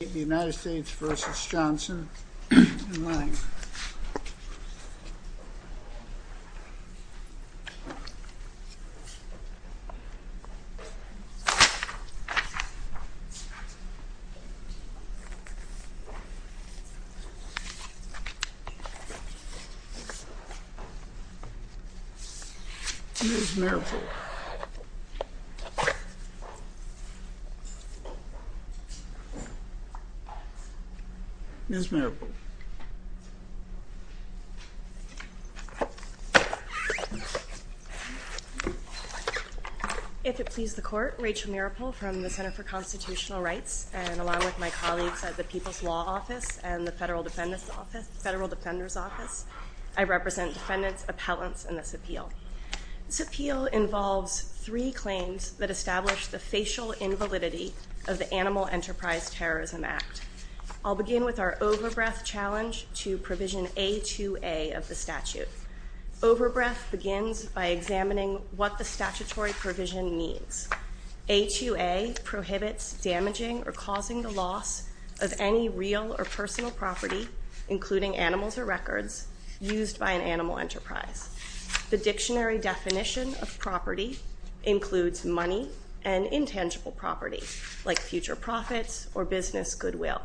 The United States v. Johnson and Lange Here's Miracle. Rachel Miracle If it please the court, Rachel Miracle from the Center for Constitutional Rights and along with my colleagues at the People's Law Office and the Federal Defender's Office, I represent defendants, appellants in this appeal. This appeal involves three claims that establish the facial invalidity of the Animal Enterprise Terrorism Act. I'll begin with our overbreath challenge to provision A2A of the statute. Overbreath begins by examining what the statutory provision means. A2A prohibits damaging or causing the loss of any real or personal property, including animals or records, used by an animal enterprise. The dictionary definition of property includes money and intangible property, like future profits or business goodwill.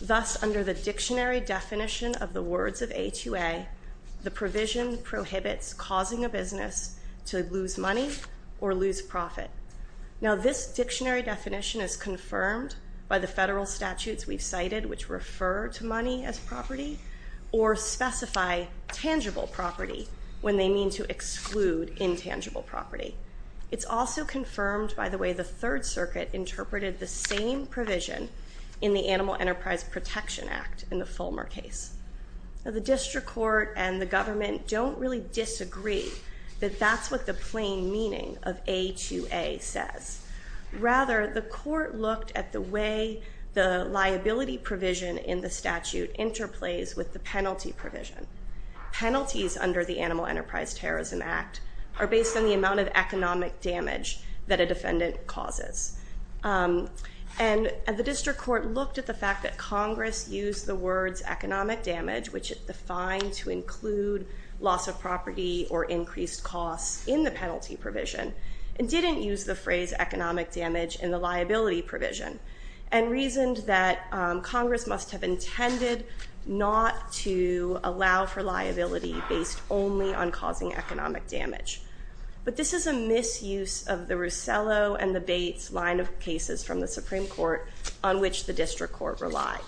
Thus, under the dictionary definition of the words of A2A, the provision prohibits causing a business to lose money or lose profit. Now this dictionary definition is confirmed by the federal statutes we've cited, which when they mean to exclude intangible property. It's also confirmed by the way the Third Circuit interpreted the same provision in the Animal Enterprise Protection Act in the Fulmer case. The district court and the government don't really disagree that that's what the plain meaning of A2A says. Rather, the court looked at the way the liability provision in the statute interplays with the penalty provision. Penalties under the Animal Enterprise Terrorism Act are based on the amount of economic damage that a defendant causes. And the district court looked at the fact that Congress used the words economic damage, which it defined to include loss of property or increased costs in the penalty provision, and didn't use the phrase economic damage in the liability provision, and reasoned that Congress must have intended not to allow for liability based only on causing economic damage. But this is a misuse of the Russello and the Bates line of cases from the Supreme Court on which the district court relied.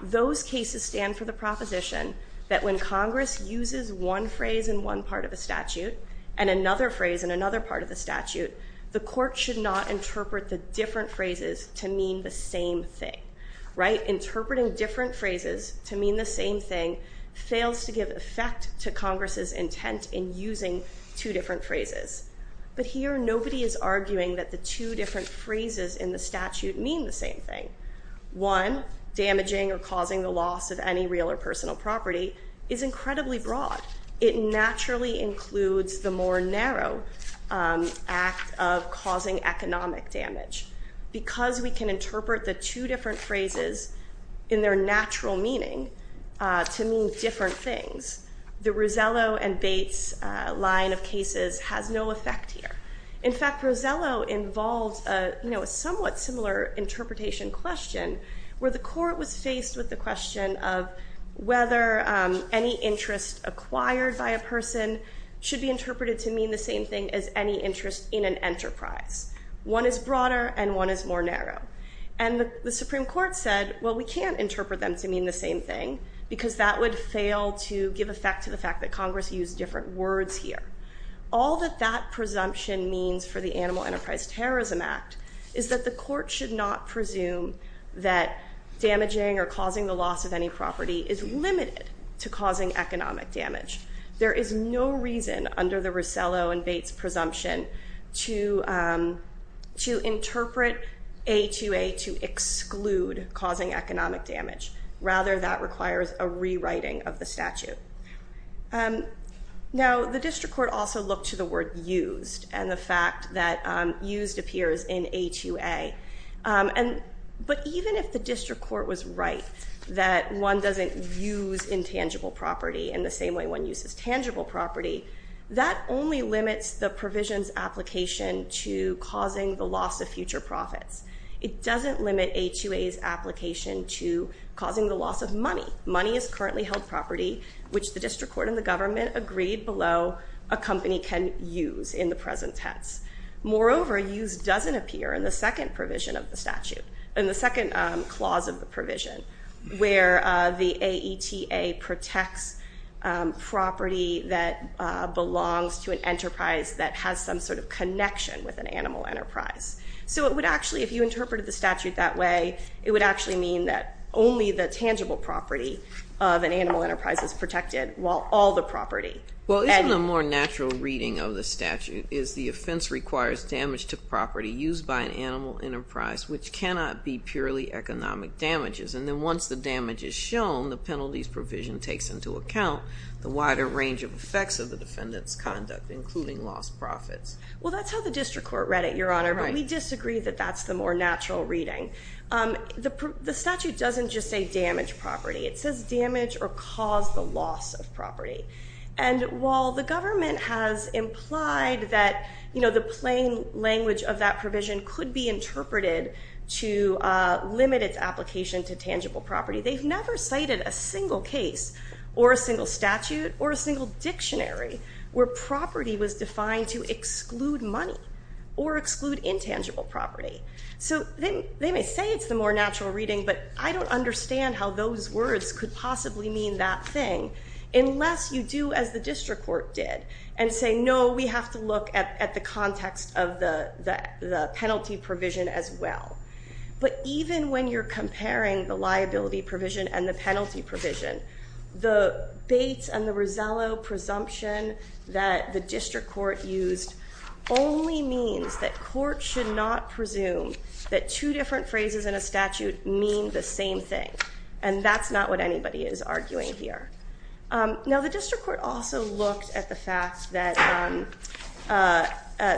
Those cases stand for the proposition that when Congress uses one phrase in one part of the statute, and another phrase in another part of the statute, the court should not interpreting different phrases to mean the same thing fails to give effect to Congress's intent in using two different phrases. But here, nobody is arguing that the two different phrases in the statute mean the same thing. One, damaging or causing the loss of any real or personal property, is incredibly broad. It naturally includes the more narrow act of causing economic damage. Because we can interpret the two different phrases in their natural meaning to mean different things, the Russello and Bates line of cases has no effect here. In fact, Russello involves a somewhat similar interpretation question where the court was faced with the question of whether any interest acquired by a person should be interpreted to mean the same thing as any interest in an enterprise. One is broader, and one is more narrow. And the Supreme Court said, well, we can't interpret them to mean the same thing, because that would fail to give effect to the fact that Congress used different words here. All that that presumption means for the Animal Enterprise Terrorism Act is that the court should not presume that damaging or causing the loss of any property is limited to causing economic damage. There is no reason under the Russello and Bates presumption to interpret A2A to exclude causing economic damage. Rather, that requires a rewriting of the statute. Now, the district court also looked to the word used and the fact that used appears in A2A. But even if the district court was right that one doesn't use intangible property in the same way one uses tangible property, that only limits the provision's application to causing the loss of future profits. It doesn't limit A2A's application to causing the loss of money. Money is currently held property, which the district court and the government agreed below a company can use in the present tense. Moreover, used doesn't appear in the second provision of the statute, in the second clause of the provision, where the AETA protects property that belongs to an enterprise that has some sort of connection with an animal enterprise. So it would actually, if you interpreted the statute that way, it would actually mean that only the tangible property of an animal enterprise is protected while all the property. Well, isn't the more natural reading of the statute is the offense requires damage to damages. And then once the damage is shown, the penalties provision takes into account the wider range of effects of the defendant's conduct, including lost profits. Well, that's how the district court read it, Your Honor, but we disagree that that's the more natural reading. The statute doesn't just say damage property. It says damage or cause the loss of property. And while the government has implied that the plain language of that provision could be interpreted to limit its application to tangible property, they've never cited a single case or a single statute or a single dictionary where property was defined to exclude money or exclude intangible property. So they may say it's the more natural reading, but I don't understand how those words could possibly mean that thing unless you do as the district court did and say, no, we have to look at the context of the penalty provision as well. But even when you're comparing the liability provision and the penalty provision, the Bates and the Rosello presumption that the district court used only means that court should not presume that two different phrases in a statute mean the same thing. And that's not what anybody is arguing here. Now, the district court also looked at the fact that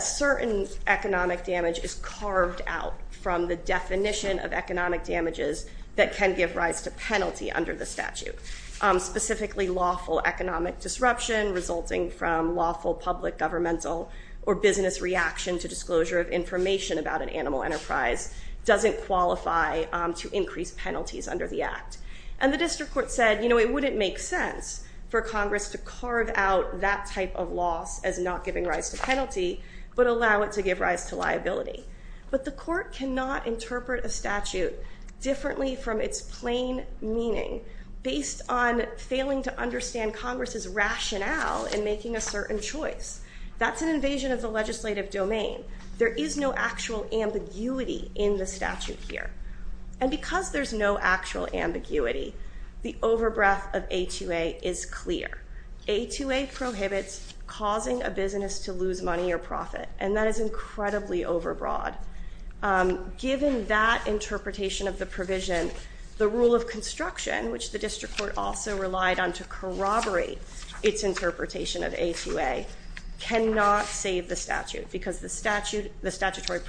certain economic damage is carved out from the definition of economic damages that can give rise to penalty under the statute. Specifically lawful economic disruption resulting from lawful public governmental or business reaction to disclosure of information about an animal enterprise doesn't qualify to increase penalties under the act. And the district court said, you know, it wouldn't make sense for Congress to carve out that type of loss as not giving rise to penalty, but allow it to give rise to liability. But the court cannot interpret a statute differently from its plain meaning based on failing to understand Congress's rationale in making a certain choice. That's an invasion of the legislative domain. There is no actual ambiguity in the statute here. And because there's no actual ambiguity, the overbreath of A2A is clear. A2A prohibits causing a business to lose money or profit, and that is incredibly overbroad. Given that interpretation of the provision, the rule of construction, which the district court also relied on to corroborate its interpretation of A2A, cannot save the statute, because the district court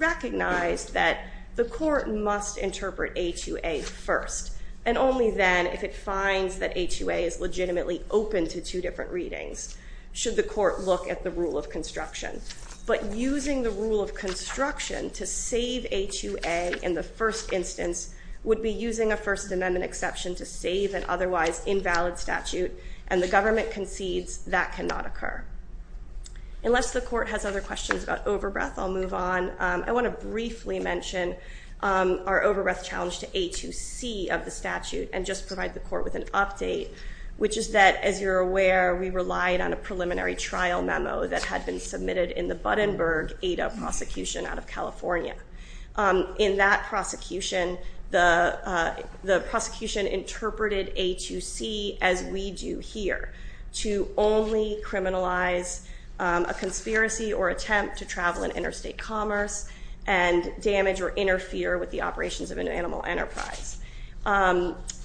recognized that the court must interpret A2A first, and only then, if it finds that A2A is legitimately open to two different readings, should the court look at the rule of construction. But using the rule of construction to save A2A in the first instance would be using a First Amendment exception to save an otherwise invalid statute, and the government concedes that cannot occur. Unless the court has other questions about overbreath, I'll move on. I want to briefly mention our overbreath challenge to A2C of the statute, and just provide the court with an update, which is that, as you're aware, we relied on a preliminary trial memo that had been submitted in the Buddenburg ADA prosecution out of California. In that prosecution, the prosecution interpreted A2C as we do here, to only criminalize a conspiracy or attempt to travel in interstate commerce, and damage or interfere with the operations of an animal enterprise.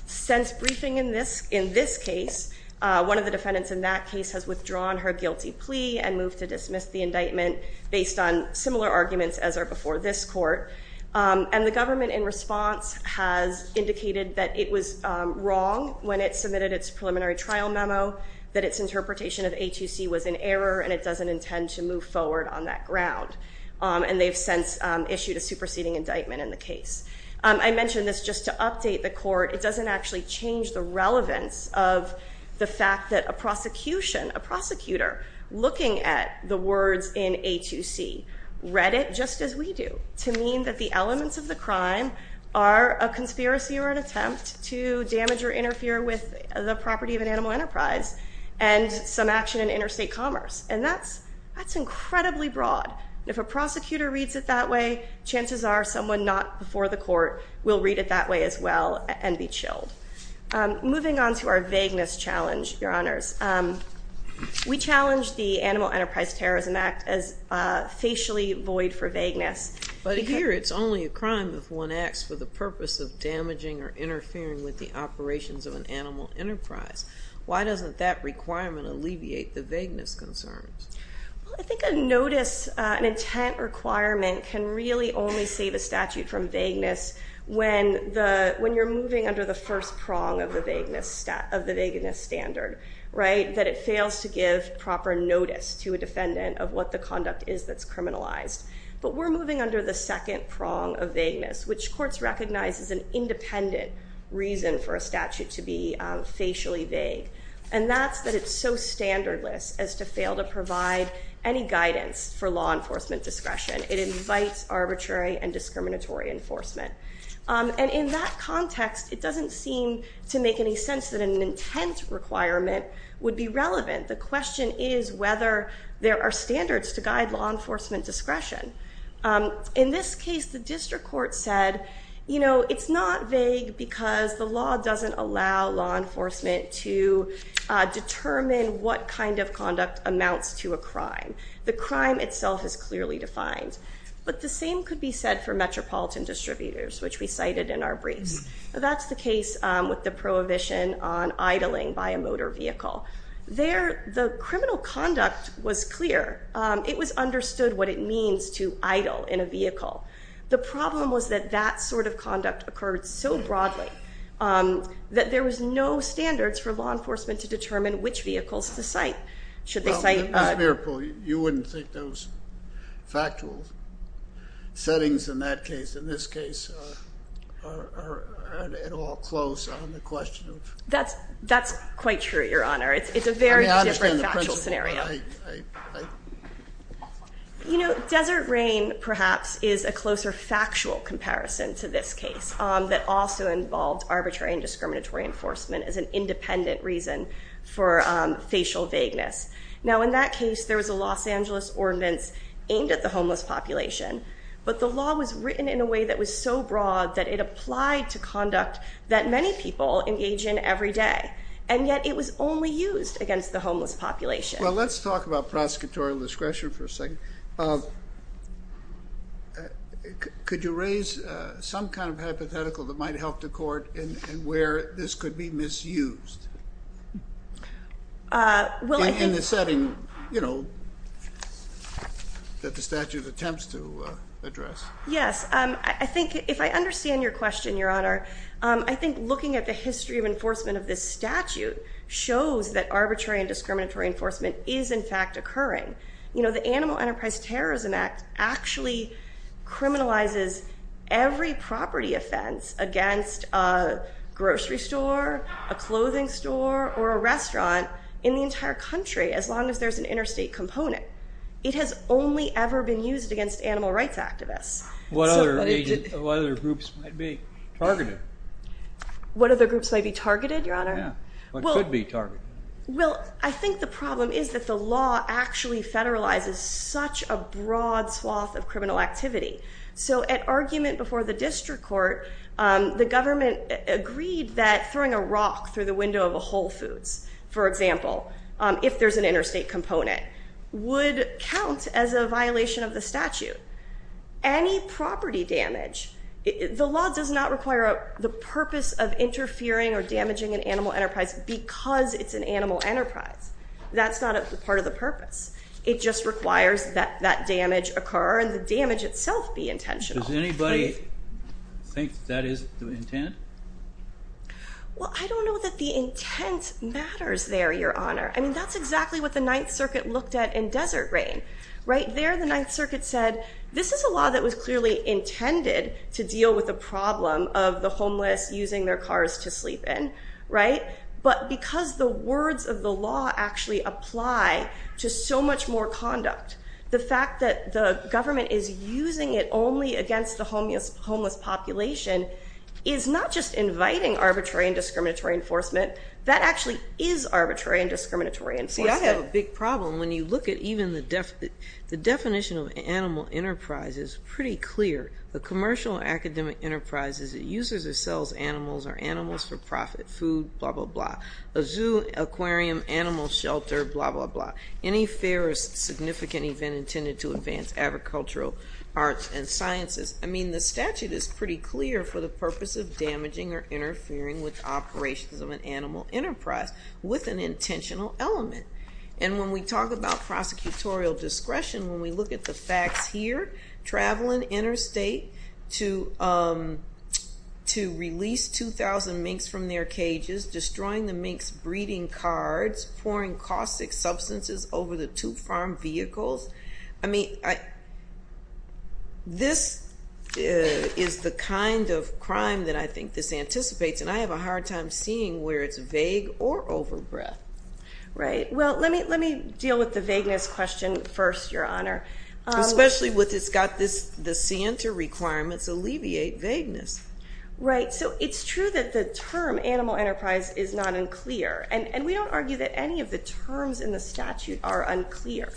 Since briefing in this case, one of the defendants in that case has withdrawn her guilty plea and moved to dismiss the indictment based on similar arguments as are before this court. And the government, in response, has indicated that it was wrong when it submitted its preliminary trial memo, that its interpretation of A2C was an error, and it doesn't intend to move forward on that ground. And they've since issued a superseding indictment in the case. I mention this just to update the court. It doesn't actually change the relevance of the fact that a prosecution, a prosecutor, looking at the words in A2C, read it just as we do, to mean that the elements of the crime are a conspiracy or an attempt to damage or interfere with the property of an animal enterprise and some action in interstate commerce. And that's incredibly broad. If a prosecutor reads it that way, chances are someone not before the court will read it that way as well and be chilled. Moving on to our vagueness challenge, Your Honors. We challenge the Animal Enterprise Terrorism Act as facially void for vagueness. But here it's only a crime if one acts with the purpose of damaging or interfering with the operations of an animal enterprise. Why doesn't that requirement alleviate the vagueness concerns? I think a notice, an intent requirement, can really only save a statute from vagueness when you're moving under the first prong of the vagueness standard, that it fails to give proper notice to a defendant of what the conduct is that's criminalized. But we're moving under the second prong of vagueness, which courts recognize is an independent reason for a statute to be facially vague. And that's that it's so standardless as to fail to provide any guidance for law enforcement discretion. It invites arbitrary and discriminatory enforcement. And in that context, it doesn't seem to make any sense that an intent requirement would be relevant. The question is whether there are standards to guide law enforcement discretion. In this case, the district court said, you know, it's not vague because the law doesn't allow law enforcement to determine what kind of conduct amounts to a crime. The crime itself is clearly defined. But the same could be said for metropolitan distributors, which we cited in our briefs. That's the case with the prohibition on idling by a motor vehicle. The criminal conduct was clear. The problem was that that sort of conduct occurred so broadly that there was no standards for law enforcement to determine which vehicles to cite. Should they cite... Ms. Meeropol, you wouldn't think those factual settings in that case, in this case, are at all close on the question of... That's quite true, Your Honor. It's a very different factual scenario. I... You know, desert rain, perhaps, is a closer factual comparison to this case that also involved arbitrary and discriminatory enforcement as an independent reason for facial vagueness. Now, in that case, there was a Los Angeles ordinance aimed at the homeless population. But the law was written in a way that was so broad that it applied to conduct that many people engage in every day. And yet, it was only used against the homeless population. Well, let's talk about prosecutorial discretion for a second. Could you raise some kind of hypothetical that might help the court in where this could be misused? Well, I think... In the setting, you know, that the statute attempts to address. Yes. I think, if I understand your question, Your Honor, I think looking at the history of enforcement of this statute shows that arbitrary and discriminatory enforcement is, in fact, occurring. You know, the Animal Enterprise Terrorism Act actually criminalizes every property offense against a grocery store, a clothing store, or a restaurant in the entire country as long as there's an interstate component. It has only ever been used against animal rights activists. What other groups might be targeted? What other groups might be targeted, Your Honor? Yeah. What could be targeted? Well, I think the problem is that the law actually federalizes such a broad swath of criminal activity. So at argument before the district court, the government agreed that throwing a rock through the window of a Whole Foods, for example, if there's an interstate component, would count as a violation of the statute. Any property damage, the law does not require the purpose of interfering or damaging an animal enterprise because it's an animal enterprise. That's not a part of the purpose. It just requires that that damage occur and the damage itself be intentional. Does anybody think that is the intent? Well, I don't know that the intent matters there, Your Honor. I mean, that's exactly what the Ninth Circuit looked at in Desert Rain. Right there, the Ninth Circuit said, this is a law that was clearly intended to deal with the problem of the homeless using their cars to sleep in, right? But because the words of the law actually apply to so much more conduct, the fact that the government is using it only against the homeless population is not just inviting arbitrary and discriminatory enforcement. That actually is arbitrary and discriminatory enforcement. See, I have a big problem when you look at even the definition of an animal enterprise is pretty clear. A commercial or academic enterprise is it uses or sells animals or animals for profit, food, blah, blah, blah, a zoo, aquarium, animal shelter, blah, blah, blah. Any fair or significant event intended to advance agricultural arts and sciences, I mean, the statute is pretty clear for the purpose of damaging or interfering with operations of an animal enterprise with an intentional element. And when we talk about prosecutorial discretion, when we look at the facts here, traveling interstate to release 2,000 minks from their cages, destroying the minks' breeding cards, pouring caustic substances over the two farm vehicles, I mean, this is the kind of crime that I think this anticipates. And I have a hard time seeing where it's vague or overbred. Right. Well, let me deal with the vagueness question first, Your Honor. Especially with it's got the scienter requirements alleviate vagueness. Right. So it's true that the term animal enterprise is not unclear. And we don't argue that any of the terms in the statute are unclear.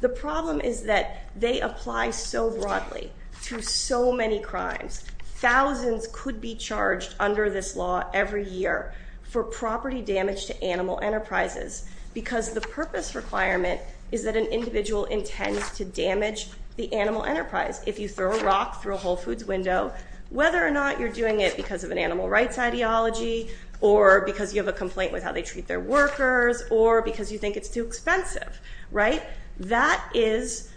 The problem is that they apply so broadly to so many crimes. Thousands could be charged under this law every year for property damage to animal enterprises because the purpose requirement is that an individual intends to damage the animal enterprise. If you throw a rock through a Whole Foods window, whether or not you're doing it because of an animal rights ideology or because you have a complaint with how they treat their workers or because you think it's too expensive, right, that is,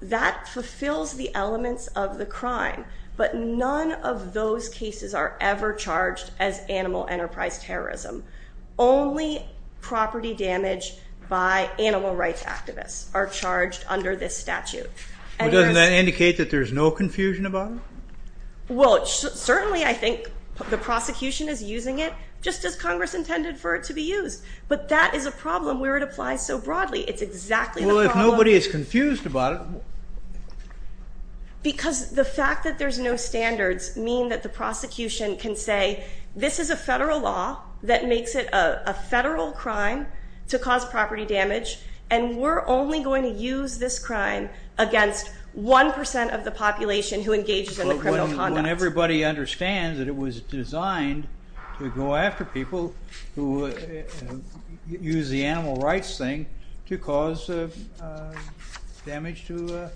that fulfills the elements of the crime. But none of those cases are ever charged as animal enterprise terrorism. Only property damage by animal rights activists are charged under this statute. Well, doesn't that indicate that there's no confusion about it? Well, certainly I think the prosecution is using it just as Congress intended for it to be used. But that is a problem where it applies so broadly. It's exactly the problem. Well, if nobody is confused about it. Because the fact that there's no standards mean that the prosecution can say, this is a federal law that makes it a federal crime to cause property damage, and we're only going to use this crime against 1% of the population who engages in the criminal conduct. When everybody understands that it was designed to go after people who use the animal rights thing to cause damage to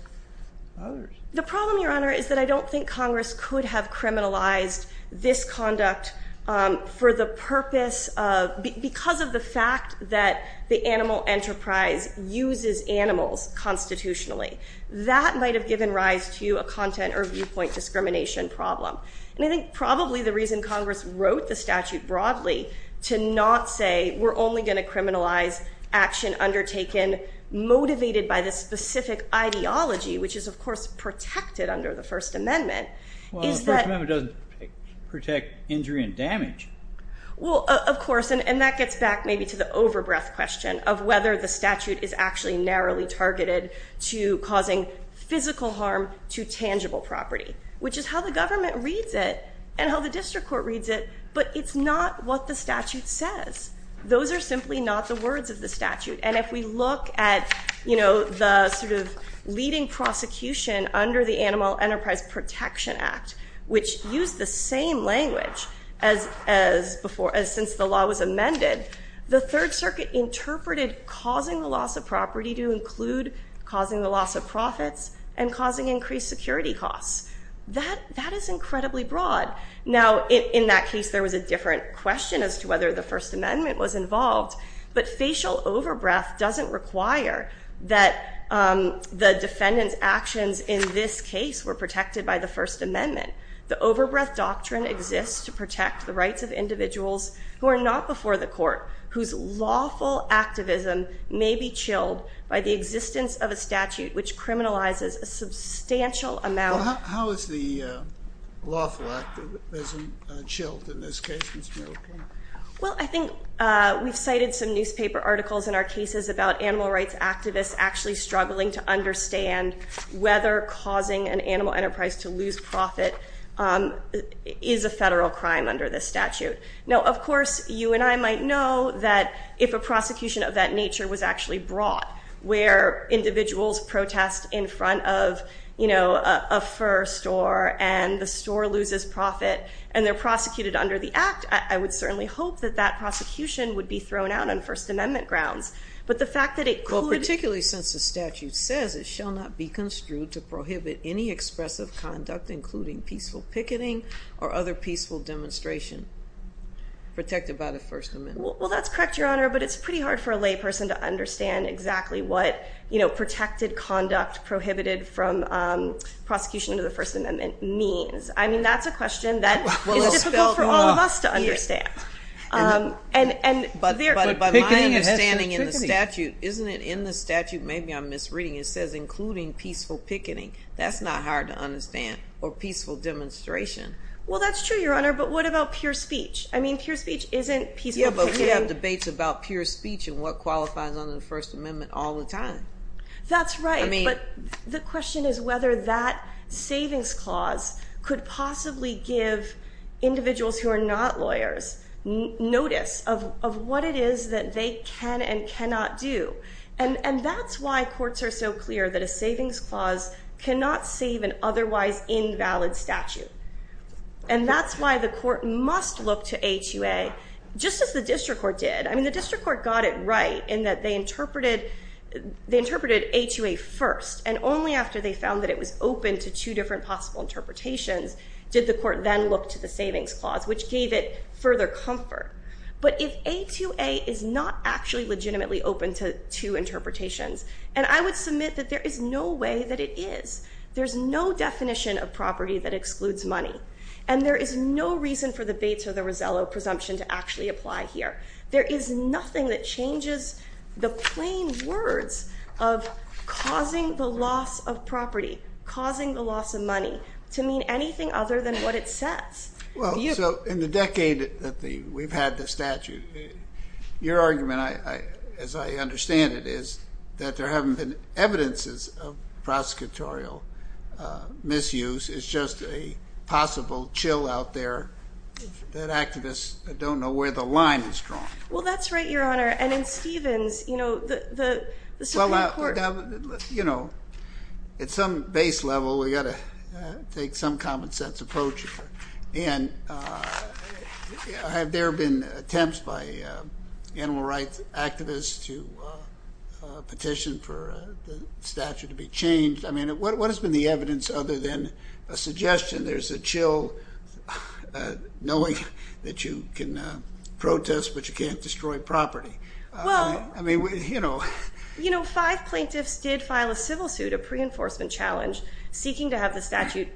others. The problem, Your Honor, is that I don't think Congress could have criminalized this conduct for the purpose of, because of the fact that the animal enterprise uses animals constitutionally. That might have given rise to a content or viewpoint discrimination problem. And I think probably the reason Congress wrote the statute broadly to not say we're only going to criminalize action undertaken motivated by this specific ideology, which is of course protected under the First Amendment, is that- Well, the First Amendment doesn't protect injury and damage. Well, of course. And that gets back maybe to the over-breath question of whether the statute is actually narrowly targeted to causing physical harm to tangible property. Which is how the government reads it, and how the district court reads it, but it's not what the statute says. Those are simply not the words of the statute. And if we look at the sort of leading prosecution under the Animal Enterprise Protection Act, which used the same language as since the law was amended, the Third Circuit interpreted causing the loss of property to include causing the loss of profits and causing increased security costs. That is incredibly broad. Now, in that case, there was a different question as to whether the First Amendment was involved, but facial over-breath doesn't require that the defendant's actions in this case were protected by the First Amendment. The over-breath doctrine exists to protect the rights of individuals who are not before the court, whose lawful activism may be chilled by the existence of a statute which criminalizes a substantial amount- Well, how is the lawful activism chilled in this case, Ms. Merrill-Klein? Well, I think we've cited some newspaper articles in our cases about animal rights activists actually struggling to understand whether causing an animal enterprise to lose profit is a federal crime under this statute. Now, of course, you and I might know that if a prosecution of that nature was actually brought where individuals protest in front of a fur store and the store loses profit and they're prosecuted under the act, I would certainly hope that that prosecution would be thrown out on First Amendment grounds. But the fact that it could- Well, particularly since the statute says it shall not be construed to prohibit any expressive conduct, including peaceful picketing or other peaceful demonstration protected by the First Amendment. Well, that's correct, Your Honor, but it's pretty hard for a lay person to understand exactly what protected conduct prohibited from prosecution of the First Amendment means. I mean, that's a question that is difficult for all of us to understand. And there- But by my understanding in the statute, isn't it in the statute, maybe I'm misreading, it says including peaceful picketing. That's not hard to understand or peaceful demonstration. Well, that's true, Your Honor, but what about pure speech? I mean, pure speech isn't peaceful picketing- Yeah, but we have debates about pure speech and what qualifies under the First Amendment all the time. That's right. I mean- But the question is whether that savings clause could possibly give individuals who are not lawyers notice of what it is that they can and cannot do. And that's why courts are so clear that a savings clause cannot save an otherwise invalid statute. And that's why the court must look to A2A, just as the district court did. I mean, the district court got it right in that they interpreted A2A first, and only after they found that it was open to two different possible interpretations did the court then look to the savings clause, which gave it further comfort. But if A2A is not actually legitimately open to two interpretations, and I would submit that there is no way that it is. There's no definition of property that excludes money. And there is no reason for the Bates or the Rosello presumption to actually apply here. There is nothing that changes the plain words of causing the loss of property, causing the loss of money, to mean anything other than what it says. Well, so in the decade that we've had the statute, your argument, as I understand it, is that there haven't been evidences of prosecutorial misuse. It's just a possible chill out there that activists don't know where the line is drawn. Well, that's right, your Honor. And in Stevens, you know, the Supreme Court— You know, at some base level, we've got to take some common sense approach here. And have there been attempts by animal rights activists to petition for the statute to be changed? I mean, what has been the evidence other than a suggestion, there's a chill, knowing that you can protest, but you can't destroy property? Well, you know, five plaintiffs did file a civil suit, a pre-enforcement challenge, seeking to have the statute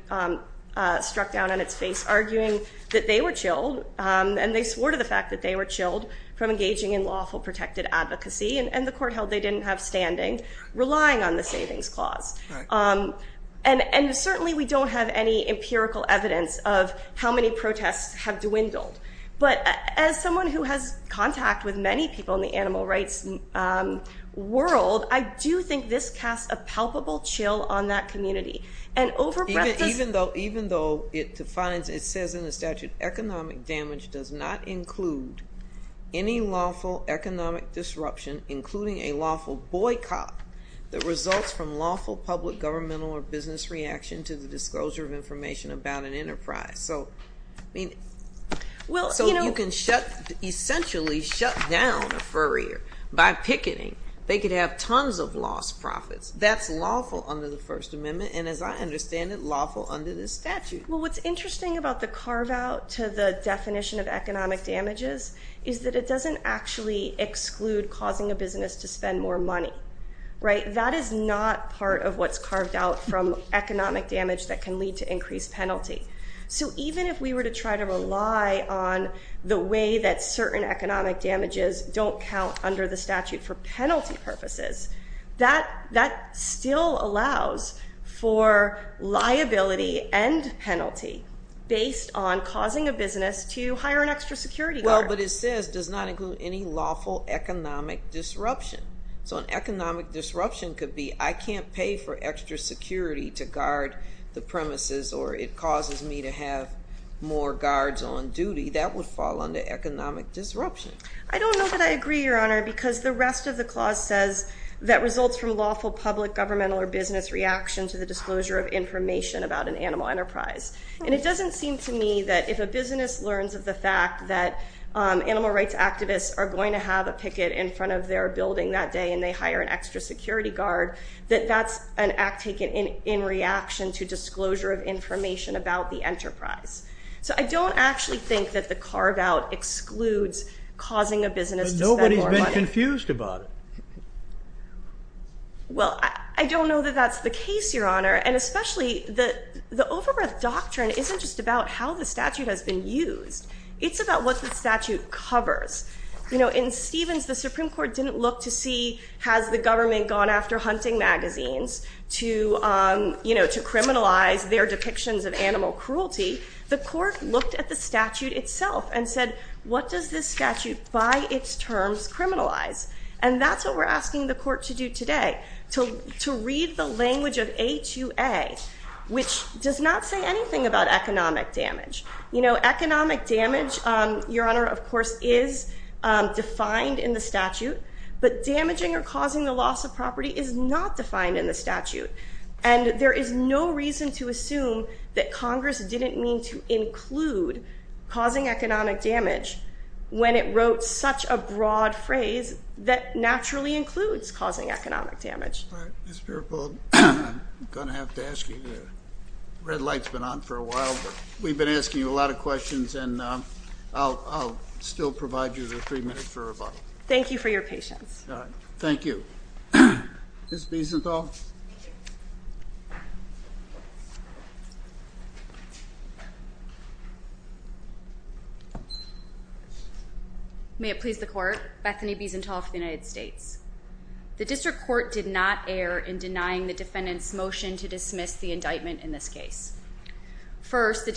struck down on its face, arguing that they were chilled. And they swore to the fact that they were chilled from engaging in lawful protected advocacy. And the court held they didn't have standing, relying on the savings clause. And certainly, we don't have any empirical evidence of how many protests have dwindled. But as someone who has contact with many people in the animal rights world, I do think this casts a palpable chill on that community. And overbreadth is— Even though it defines, it says in the statute, economic damage does not include any lawful economic disruption, including a lawful boycott that results from lawful public, governmental, or business reaction to the disclosure of information about an enterprise. So I mean, so you can shut, essentially shut down a furrier by picketing. They could have tons of lost profits. That's lawful under the First Amendment, and as I understand it, lawful under the statute. Well, what's interesting about the carve-out to the definition of economic damages is that it doesn't actually exclude causing a business to spend more money, right? That is not part of what's carved out from economic damage that can lead to increased penalty. So even if we were to try to rely on the way that certain economic damages don't count under the statute for penalty purposes, that still allows for liability and penalty based on causing a business to hire an extra security guard. Well, but it says does not include any lawful economic disruption. So an economic disruption could be, I can't pay for extra security to guard the premises, or it causes me to have more guards on duty. That would fall under economic disruption. I don't know that I agree, Your Honor, because the rest of the clause says that results from lawful public, governmental, or business reaction to the disclosure of information about an animal enterprise. And it doesn't seem to me that if a business learns of the fact that animal rights activists are going to have a picket in front of their building that day, and they hire an extra security guard, that that's an act taken in reaction to disclosure of information about the enterprise. So I don't actually think that the carve out excludes causing a business to spend more money. But nobody's been confused about it. Well, I don't know that that's the case, Your Honor. And especially, the over-breath doctrine isn't just about how the statute has been used. It's about what the statute covers. In Stevens, the Supreme Court didn't look to see has the government gone after hunting magazines to criminalize their depictions of animal cruelty. The court looked at the statute itself and said, what does this statute, by its terms, criminalize? And that's what we're asking the court to do today, to read the language of H-U-A, which does not say anything about economic damage. Economic damage, Your Honor, of course, is defined in the statute. But damaging or causing the loss of property is not defined in the statute. And there is no reason to assume that Congress didn't mean to include causing economic damage when it wrote such a broad phrase that naturally includes causing economic damage. All right. Ms. Peripold, I'm going to have to ask you, the red light's been on for a while, but we've been asking you a lot of questions, and I'll still provide you the three minutes for rebuttal. Thank you for your patience. All right. Thank you. Ms. Biesenthal. Thank you. May it please the Court, Bethany Biesenthal for the United States. The District Court did not err in denying the defendant's motion to dismiss the indictment in this case. The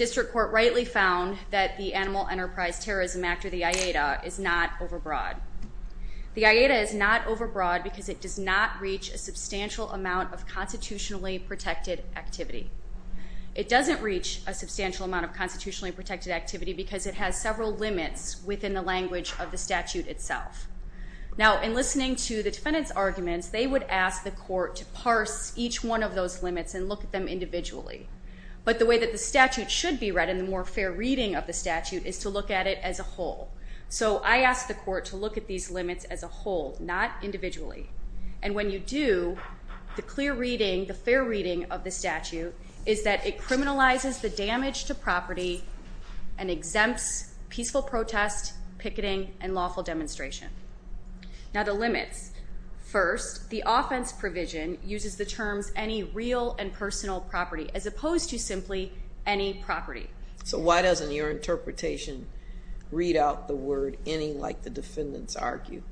AIDA is not overbroad because it does not reach a substantial amount of constitutionally protected activity. It doesn't reach a substantial amount of constitutionally protected activity because it has several limits within the language of the statute itself. Now, in listening to the defendant's arguments, they would ask the Court to parse each one of those limits and look at them individually. But the way that the statute should be read and the more fair reading of the statute is to look at it as a whole. So I ask the Court to look at these limits as a whole, not individually. And when you do, the clear reading, the fair reading of the statute is that it criminalizes the damage to property and exempts peaceful protest, picketing, and lawful demonstration. Now, the limits. First, the offense provision uses the terms any real and personal property as opposed to simply any property. So why doesn't your interpretation read out the word any like the defendant's argued?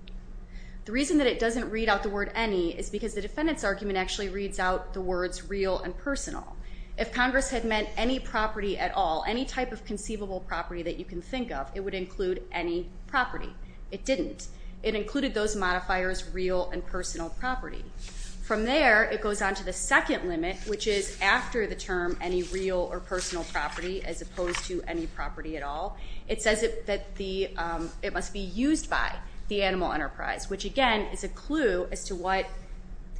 The reason that it doesn't read out the word any is because the defendant's argument actually reads out the words real and personal. If Congress had meant any property at all, any type of conceivable property that you can think of, it would include any property. It didn't. It included those modifiers real and personal property. From there, it goes on to the second limit, which is after the term any real or personal property as opposed to any property at all, it says that it must be used by the animal enterprise, which again is a clue as to what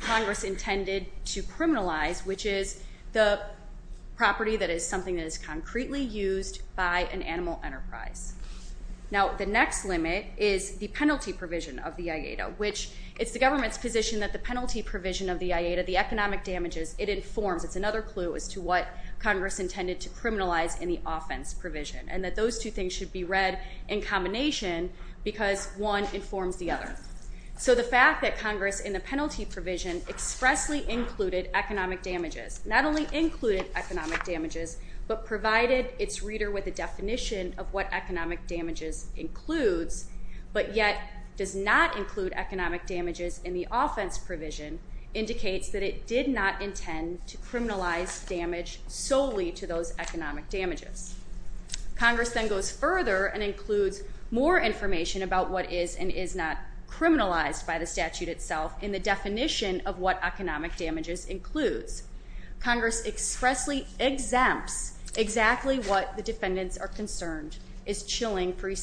Congress intended to criminalize, which is the property that is something that is concretely used by an animal enterprise. Now the next limit is the penalty provision of the IATA, which it's the government's position that the penalty provision of the IATA, the economic damages, it informs, it's another clue as to what Congress intended to criminalize in the offense provision and that those two things should be read in combination because one informs the other. So the fact that Congress in the penalty provision expressly included economic damages, not only included economic damages, but provided its reader with a definition of what economic damages includes, but yet does not include economic damages in the offense provision indicates that it did not intend to criminalize damage solely to those economic damages. Congress then goes further and includes more information about what is and is not criminalized by the statute itself in the definition of what economic damages includes. Congress expressly exempts exactly what the defendants are concerned is chilling free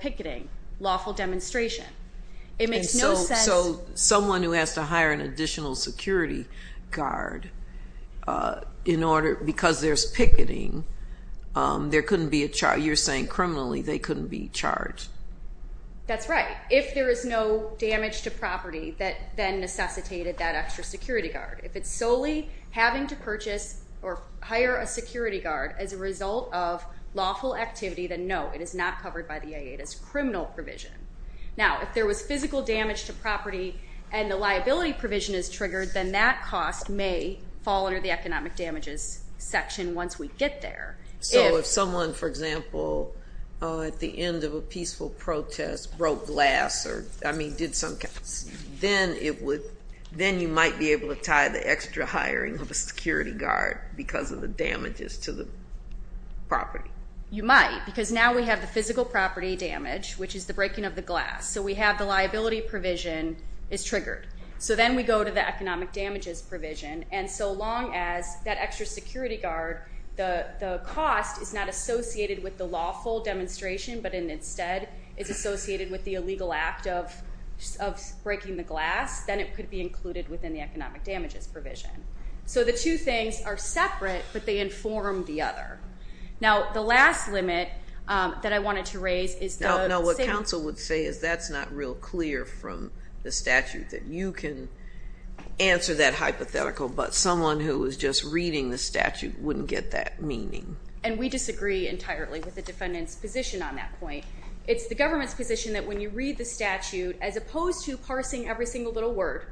picketing, lawful demonstration. It makes no sense... And so someone who has to hire an additional security guard in order, because there's picketing, there couldn't be a charge, you're saying criminally they couldn't be charged. That's right. If there is no damage to property that then necessitated that extra security guard. If it's solely having to purchase or hire a security guard as a result of lawful activity, then no, it is not covered by the IATA's criminal provision. Now if there was physical damage to property and the liability provision is triggered, then that cost may fall under the economic damages section once we get there. So if someone, for example, at the end of a peaceful protest broke glass or I mean did some... Then you might be able to tie the extra hiring of a security guard because of the damages to the property. You might, because now we have the physical property damage, which is the breaking of the glass. So we have the liability provision is triggered. So then we go to the economic damages provision. And so long as that extra security guard, the cost is not associated with the lawful demonstration but instead is associated with the illegal act of breaking the glass, then it could be included within the economic damages provision. So the two things are separate, but they inform the other. Now, the last limit that I wanted to raise is the... No, no. What counsel would say is that's not real clear from the statute that you can answer that hypothetical, but someone who was just reading the statute wouldn't get that meaning. And we disagree entirely with the defendant's position on that point. It's the government's position that when you read the statute, as opposed to parsing every single little word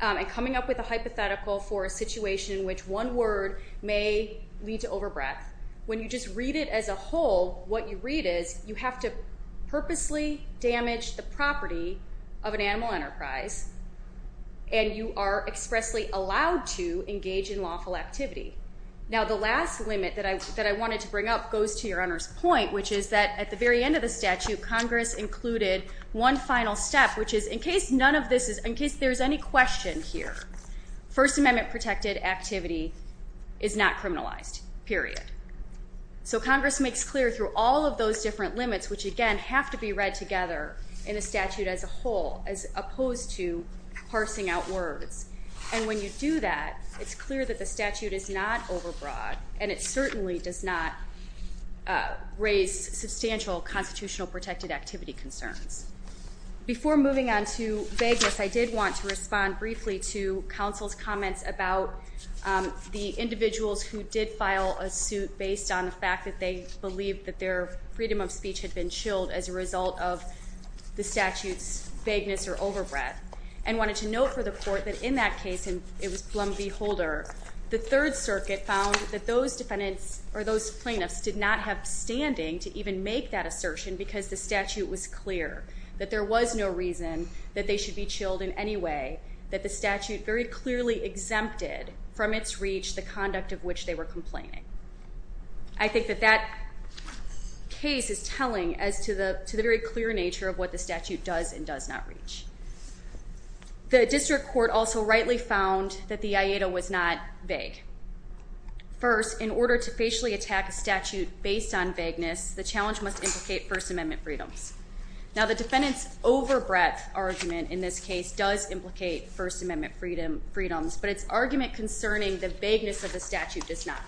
and coming up with a hypothetical for a situation in which one word may lead to overbreath, when you just read it as a whole, what you read is you have to purposely damage the property of an animal enterprise and you are expressly allowed to engage in lawful activity. Now, the last limit that I wanted to bring up goes to your Honor's point, which is that at the very end of the statute, Congress included one final step, which is in case there's any question here, First Amendment protected activity is not criminalized, period. So Congress makes clear through all of those different limits, which again have to be read together in a statute as a whole, as opposed to parsing out words. And when you do that, it's clear that the statute is not overbroad and it certainly does not raise substantial constitutional protected activity concerns. Before moving on to vagueness, I did want to respond briefly to counsel's comments about the individuals who did file a suit based on the fact that they believed that their freedom of speech had been chilled as a result of the statute's vagueness or overbreath, and wanted to note for the Court that in that case, and it was Plum v. Holder, the Third Circuit found that those plaintiffs did not have standing to even make that assertion because the statute was clear that there was no reason that they should be chilled in any way, that the statute very clearly exempted from its reach the conduct of which they were complaining. I think that that case is telling as to the very clear nature of what the statute does and does not reach. The District Court also rightly found that the aeda was not vague. First, in order to facially attack a statute based on vagueness, the challenge must implicate First Amendment freedoms. Now, the defendant's overbreath argument in this case does implicate First Amendment freedoms, but its argument concerning the vagueness of the statute does not.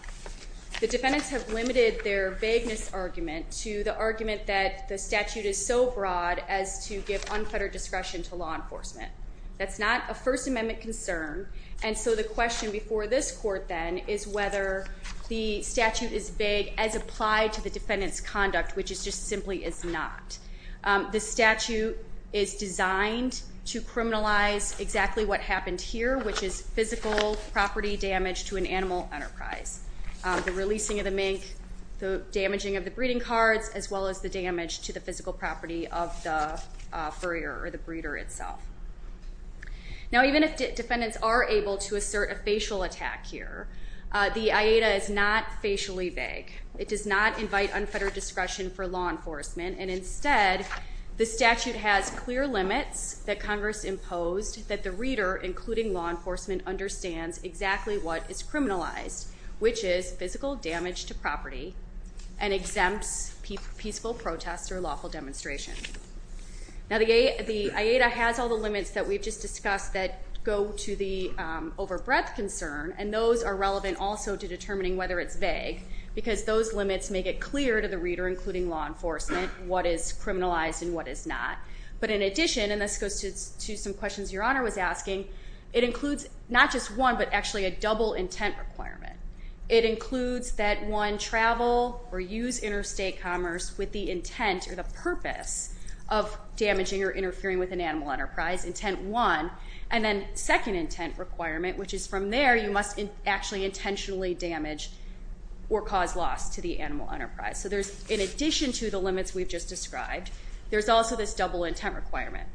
The defendants have limited their vagueness argument to the argument that the statute is so broad as to give unfettered discretion to law enforcement. That's not a First Amendment concern, and so the question before this Court, then, is whether the statute is vague as applied to the defendant's conduct, which it just simply is not. The statute is designed to criminalize exactly what happened here, which is physical property damage to an animal enterprise. The releasing of the mink, the damaging of the breeding cards, as well as the damage to the physical property of the furrier or the breeder itself. Now, even if defendants are able to assert a facial attack here, the aeda is not facially vague. It does not invite unfettered discretion for law enforcement, and instead, the statute has clear limits that Congress imposed that the reader, including law enforcement, understands exactly what is criminalized, which is physical damage to property and exempts peaceful protest or lawful demonstration. Now, the aeda has all the limits that we've just discussed that go to the overbreadth concern, and those are relevant also to determining whether it's vague, because those limits make it clear to the reader, including law enforcement, what is criminalized and what is not. But in addition, and this goes to some questions Your Honor was asking, it includes not just one but actually a double intent requirement. It includes that one travel or use interstate commerce with the intent or the purpose of damaging or interfering with an animal enterprise, intent one, and then second intent requirement, which is from there, you must actually intentionally damage or cause loss to the animal enterprise. So there's, in addition to the limits we've just described, there's also this double intent requirement.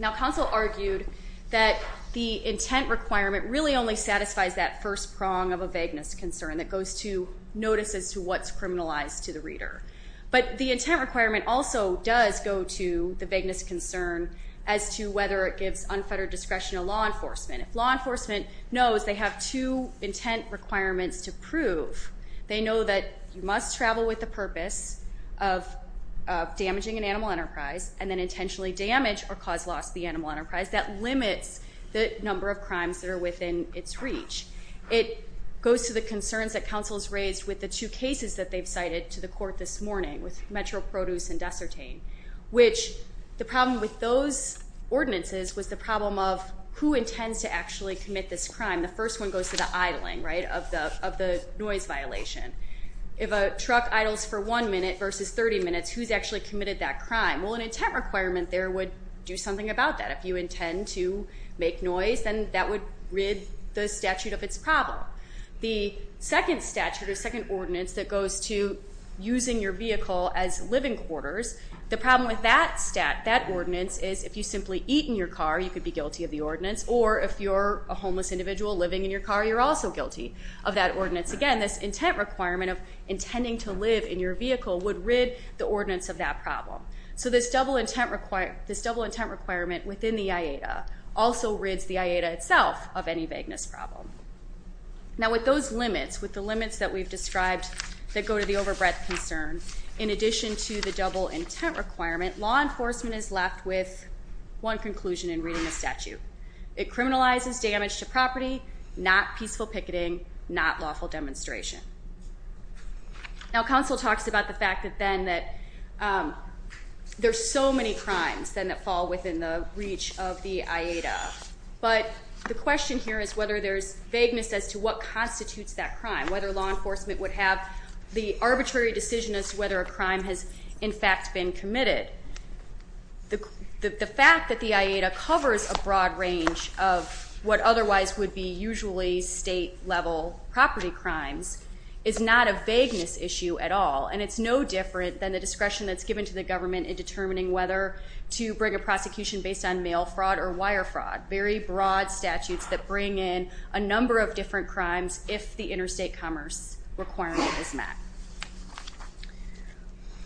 Now, counsel argued that the intent requirement really only satisfies that first prong of vagueness concern that goes to notice as to what's criminalized to the reader. But the intent requirement also does go to the vagueness concern as to whether it gives unfettered discretion to law enforcement. If law enforcement knows they have two intent requirements to prove, they know that you must travel with the purpose of damaging an animal enterprise and then intentionally damage or cause loss to the animal enterprise, that limits the number of crimes that are within its reach. It goes to the concerns that counsel's raised with the two cases that they've cited to the court this morning with Metro Produce and Dessertain, which the problem with those ordinances was the problem of who intends to actually commit this crime. The first one goes to the idling, right, of the noise violation. If a truck idles for one minute versus 30 minutes, who's actually committed that crime? Well, an intent requirement there would do something about that. If you intend to make noise, then that would rid the statute of its problem. The second statute or second ordinance that goes to using your vehicle as living quarters, the problem with that ordinance is if you simply eat in your car, you could be guilty of the ordinance, or if you're a homeless individual living in your car, you're also guilty of that ordinance. Again, this intent requirement of intending to live in your vehicle would rid the ordinance of that problem. So this double intent requirement within the IATA also rids the IATA itself of any vagueness problem. Now, with those limits, with the limits that we've described that go to the overbred concern, in addition to the double intent requirement, law enforcement is left with one conclusion in reading the statute. It criminalizes damage to property, not peaceful picketing, not lawful demonstration. Now, counsel talks about the fact that then that there's so many crimes then that fall within the reach of the IATA, but the question here is whether there's vagueness as to what constitutes that crime, whether law enforcement would have the arbitrary decision as to whether a crime has in fact been committed. The fact that the IATA covers a broad range of what otherwise would be usually state-level property crimes is not a vagueness issue at all, and it's no different than the discretion that's given to the government in determining whether to bring a prosecution based on mail fraud or wire fraud, very broad statutes that bring in a number of different crimes if the interstate commerce requirement is met.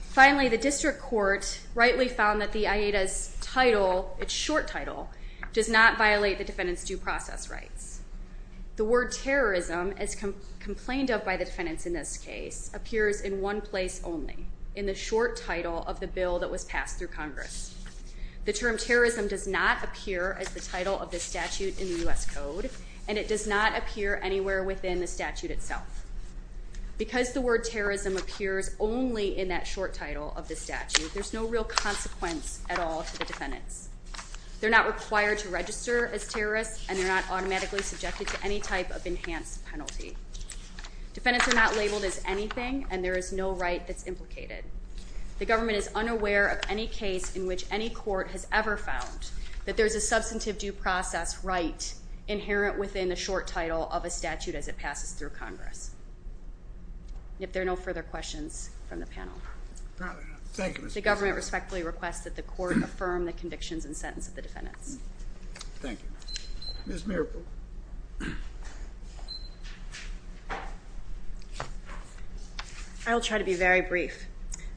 Finally, the district court rightly found that the IATA's title, its short title, does not violate the defendant's due process rights. The word terrorism, as complained of by the defendants in this case, appears in one place only, in the short title of the bill that was passed through Congress. The term terrorism does not appear as the title of the statute in the U.S. Code, and it does not appear anywhere within the statute itself. Because the word terrorism appears only in that short title of the statute, there's no real consequence at all to the defendants. They're not required to register as terrorists, and they're not automatically subjected to any type of enhanced penalty. Defendants are not labeled as anything, and there is no right that's implicated. The government is unaware of any case in which any court has ever found that there's a substantive due process right inherent within the short title of a statute as it passes through Congress. If there are no further questions from the panel. Thank you, Mr. President. The government respectfully requests that the court affirm the convictions and sentence of the defendants. Thank you. Ms. Marple. I'll try to be very brief.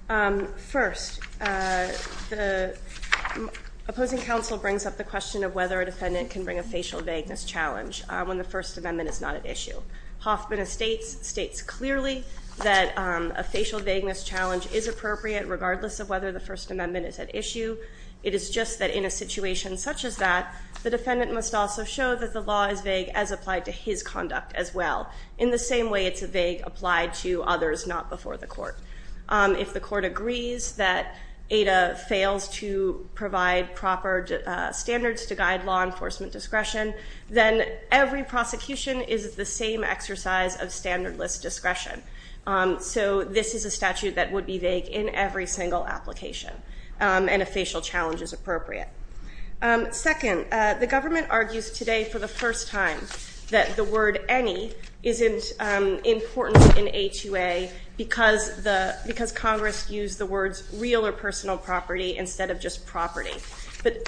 First, the opposing counsel brings up the question of whether a defendant can bring a facial vagueness challenge when the First Amendment is not at issue. Hoffman states clearly that a facial vagueness challenge is appropriate regardless of whether the First Amendment is at issue. It is just that in a situation such as that, the defendant must also show that the law is vague as applied to his conduct as well. In the same way it's vague applied to others not before the court. If the court agrees that ADA fails to provide proper standards to guide law enforcement discretion, then every prosecution is the same exercise of standardless discretion. So this is a statute that would be vague in every single application and a facial challenge is appropriate. Second, the government argues today for the first time that the word any isn't important in HUA because Congress used the words real or personal property instead of just property. But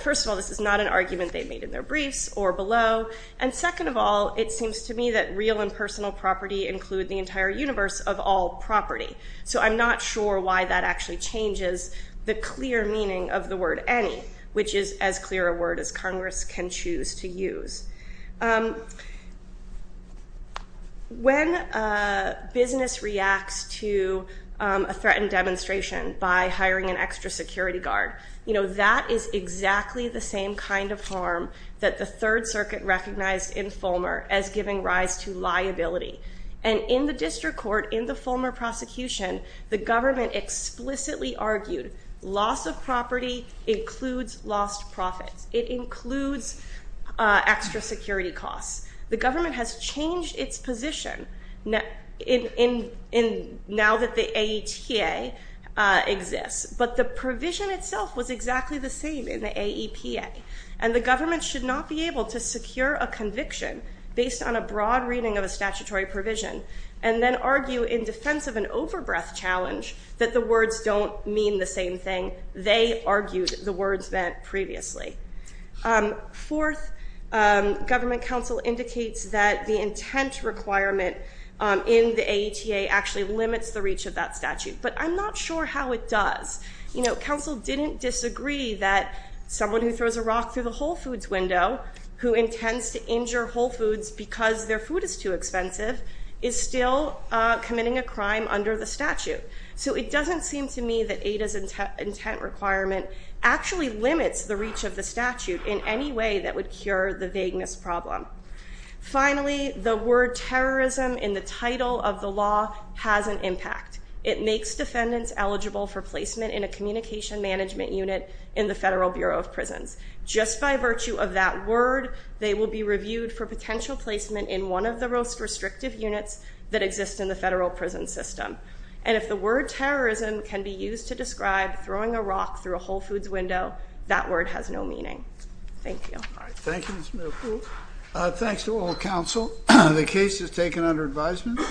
first of all, this is not an argument they made in their briefs or below. And second of all, it seems to me that real and personal property include the entire universe of all property. So I'm not sure why that actually changes the clear meaning of the word any, which is as clear a word as Congress can choose to use. When a business reacts to a threatened demonstration by hiring an extra security guard, that is exactly the same kind of harm that the Third Circuit recognized in Fulmer as giving rise to liability. And in the district court, in the Fulmer prosecution, the government explicitly argued loss of property includes lost profits. It includes extra security costs. The government has changed its position now that the AETA exists. But the provision itself was exactly the same in the AEPA and the government should not be able to secure a conviction based on a broad reading of a statutory provision and then argue in defense of an overbreath challenge that the words don't mean the same thing they argued the words meant previously. Fourth, government counsel indicates that the intent requirement in the AETA actually limits the reach of that statute. But I'm not sure how it does. You know, counsel didn't disagree that someone who throws a rock through the Whole Foods window who intends to injure Whole Foods because their food is too expensive is still committing a crime under the statute. So it doesn't seem to me that AETA's intent requirement actually limits the reach of the statute in any way that would cure the vagueness problem. Finally, the word terrorism in the title of the law has an impact. It makes defendants eligible for placement in a communication management unit in the Federal Bureau of Prisons. Just by virtue of that word, they will be reviewed for potential placement in one of the most restrictive units that exist in the federal prison system. And if the word terrorism can be used to describe throwing a rock through a Whole Foods window, that word has no meaning. Thank you. All right. Thank you, Ms. Miller. Cool. Thanks to all counsel. The case is taken under advisement.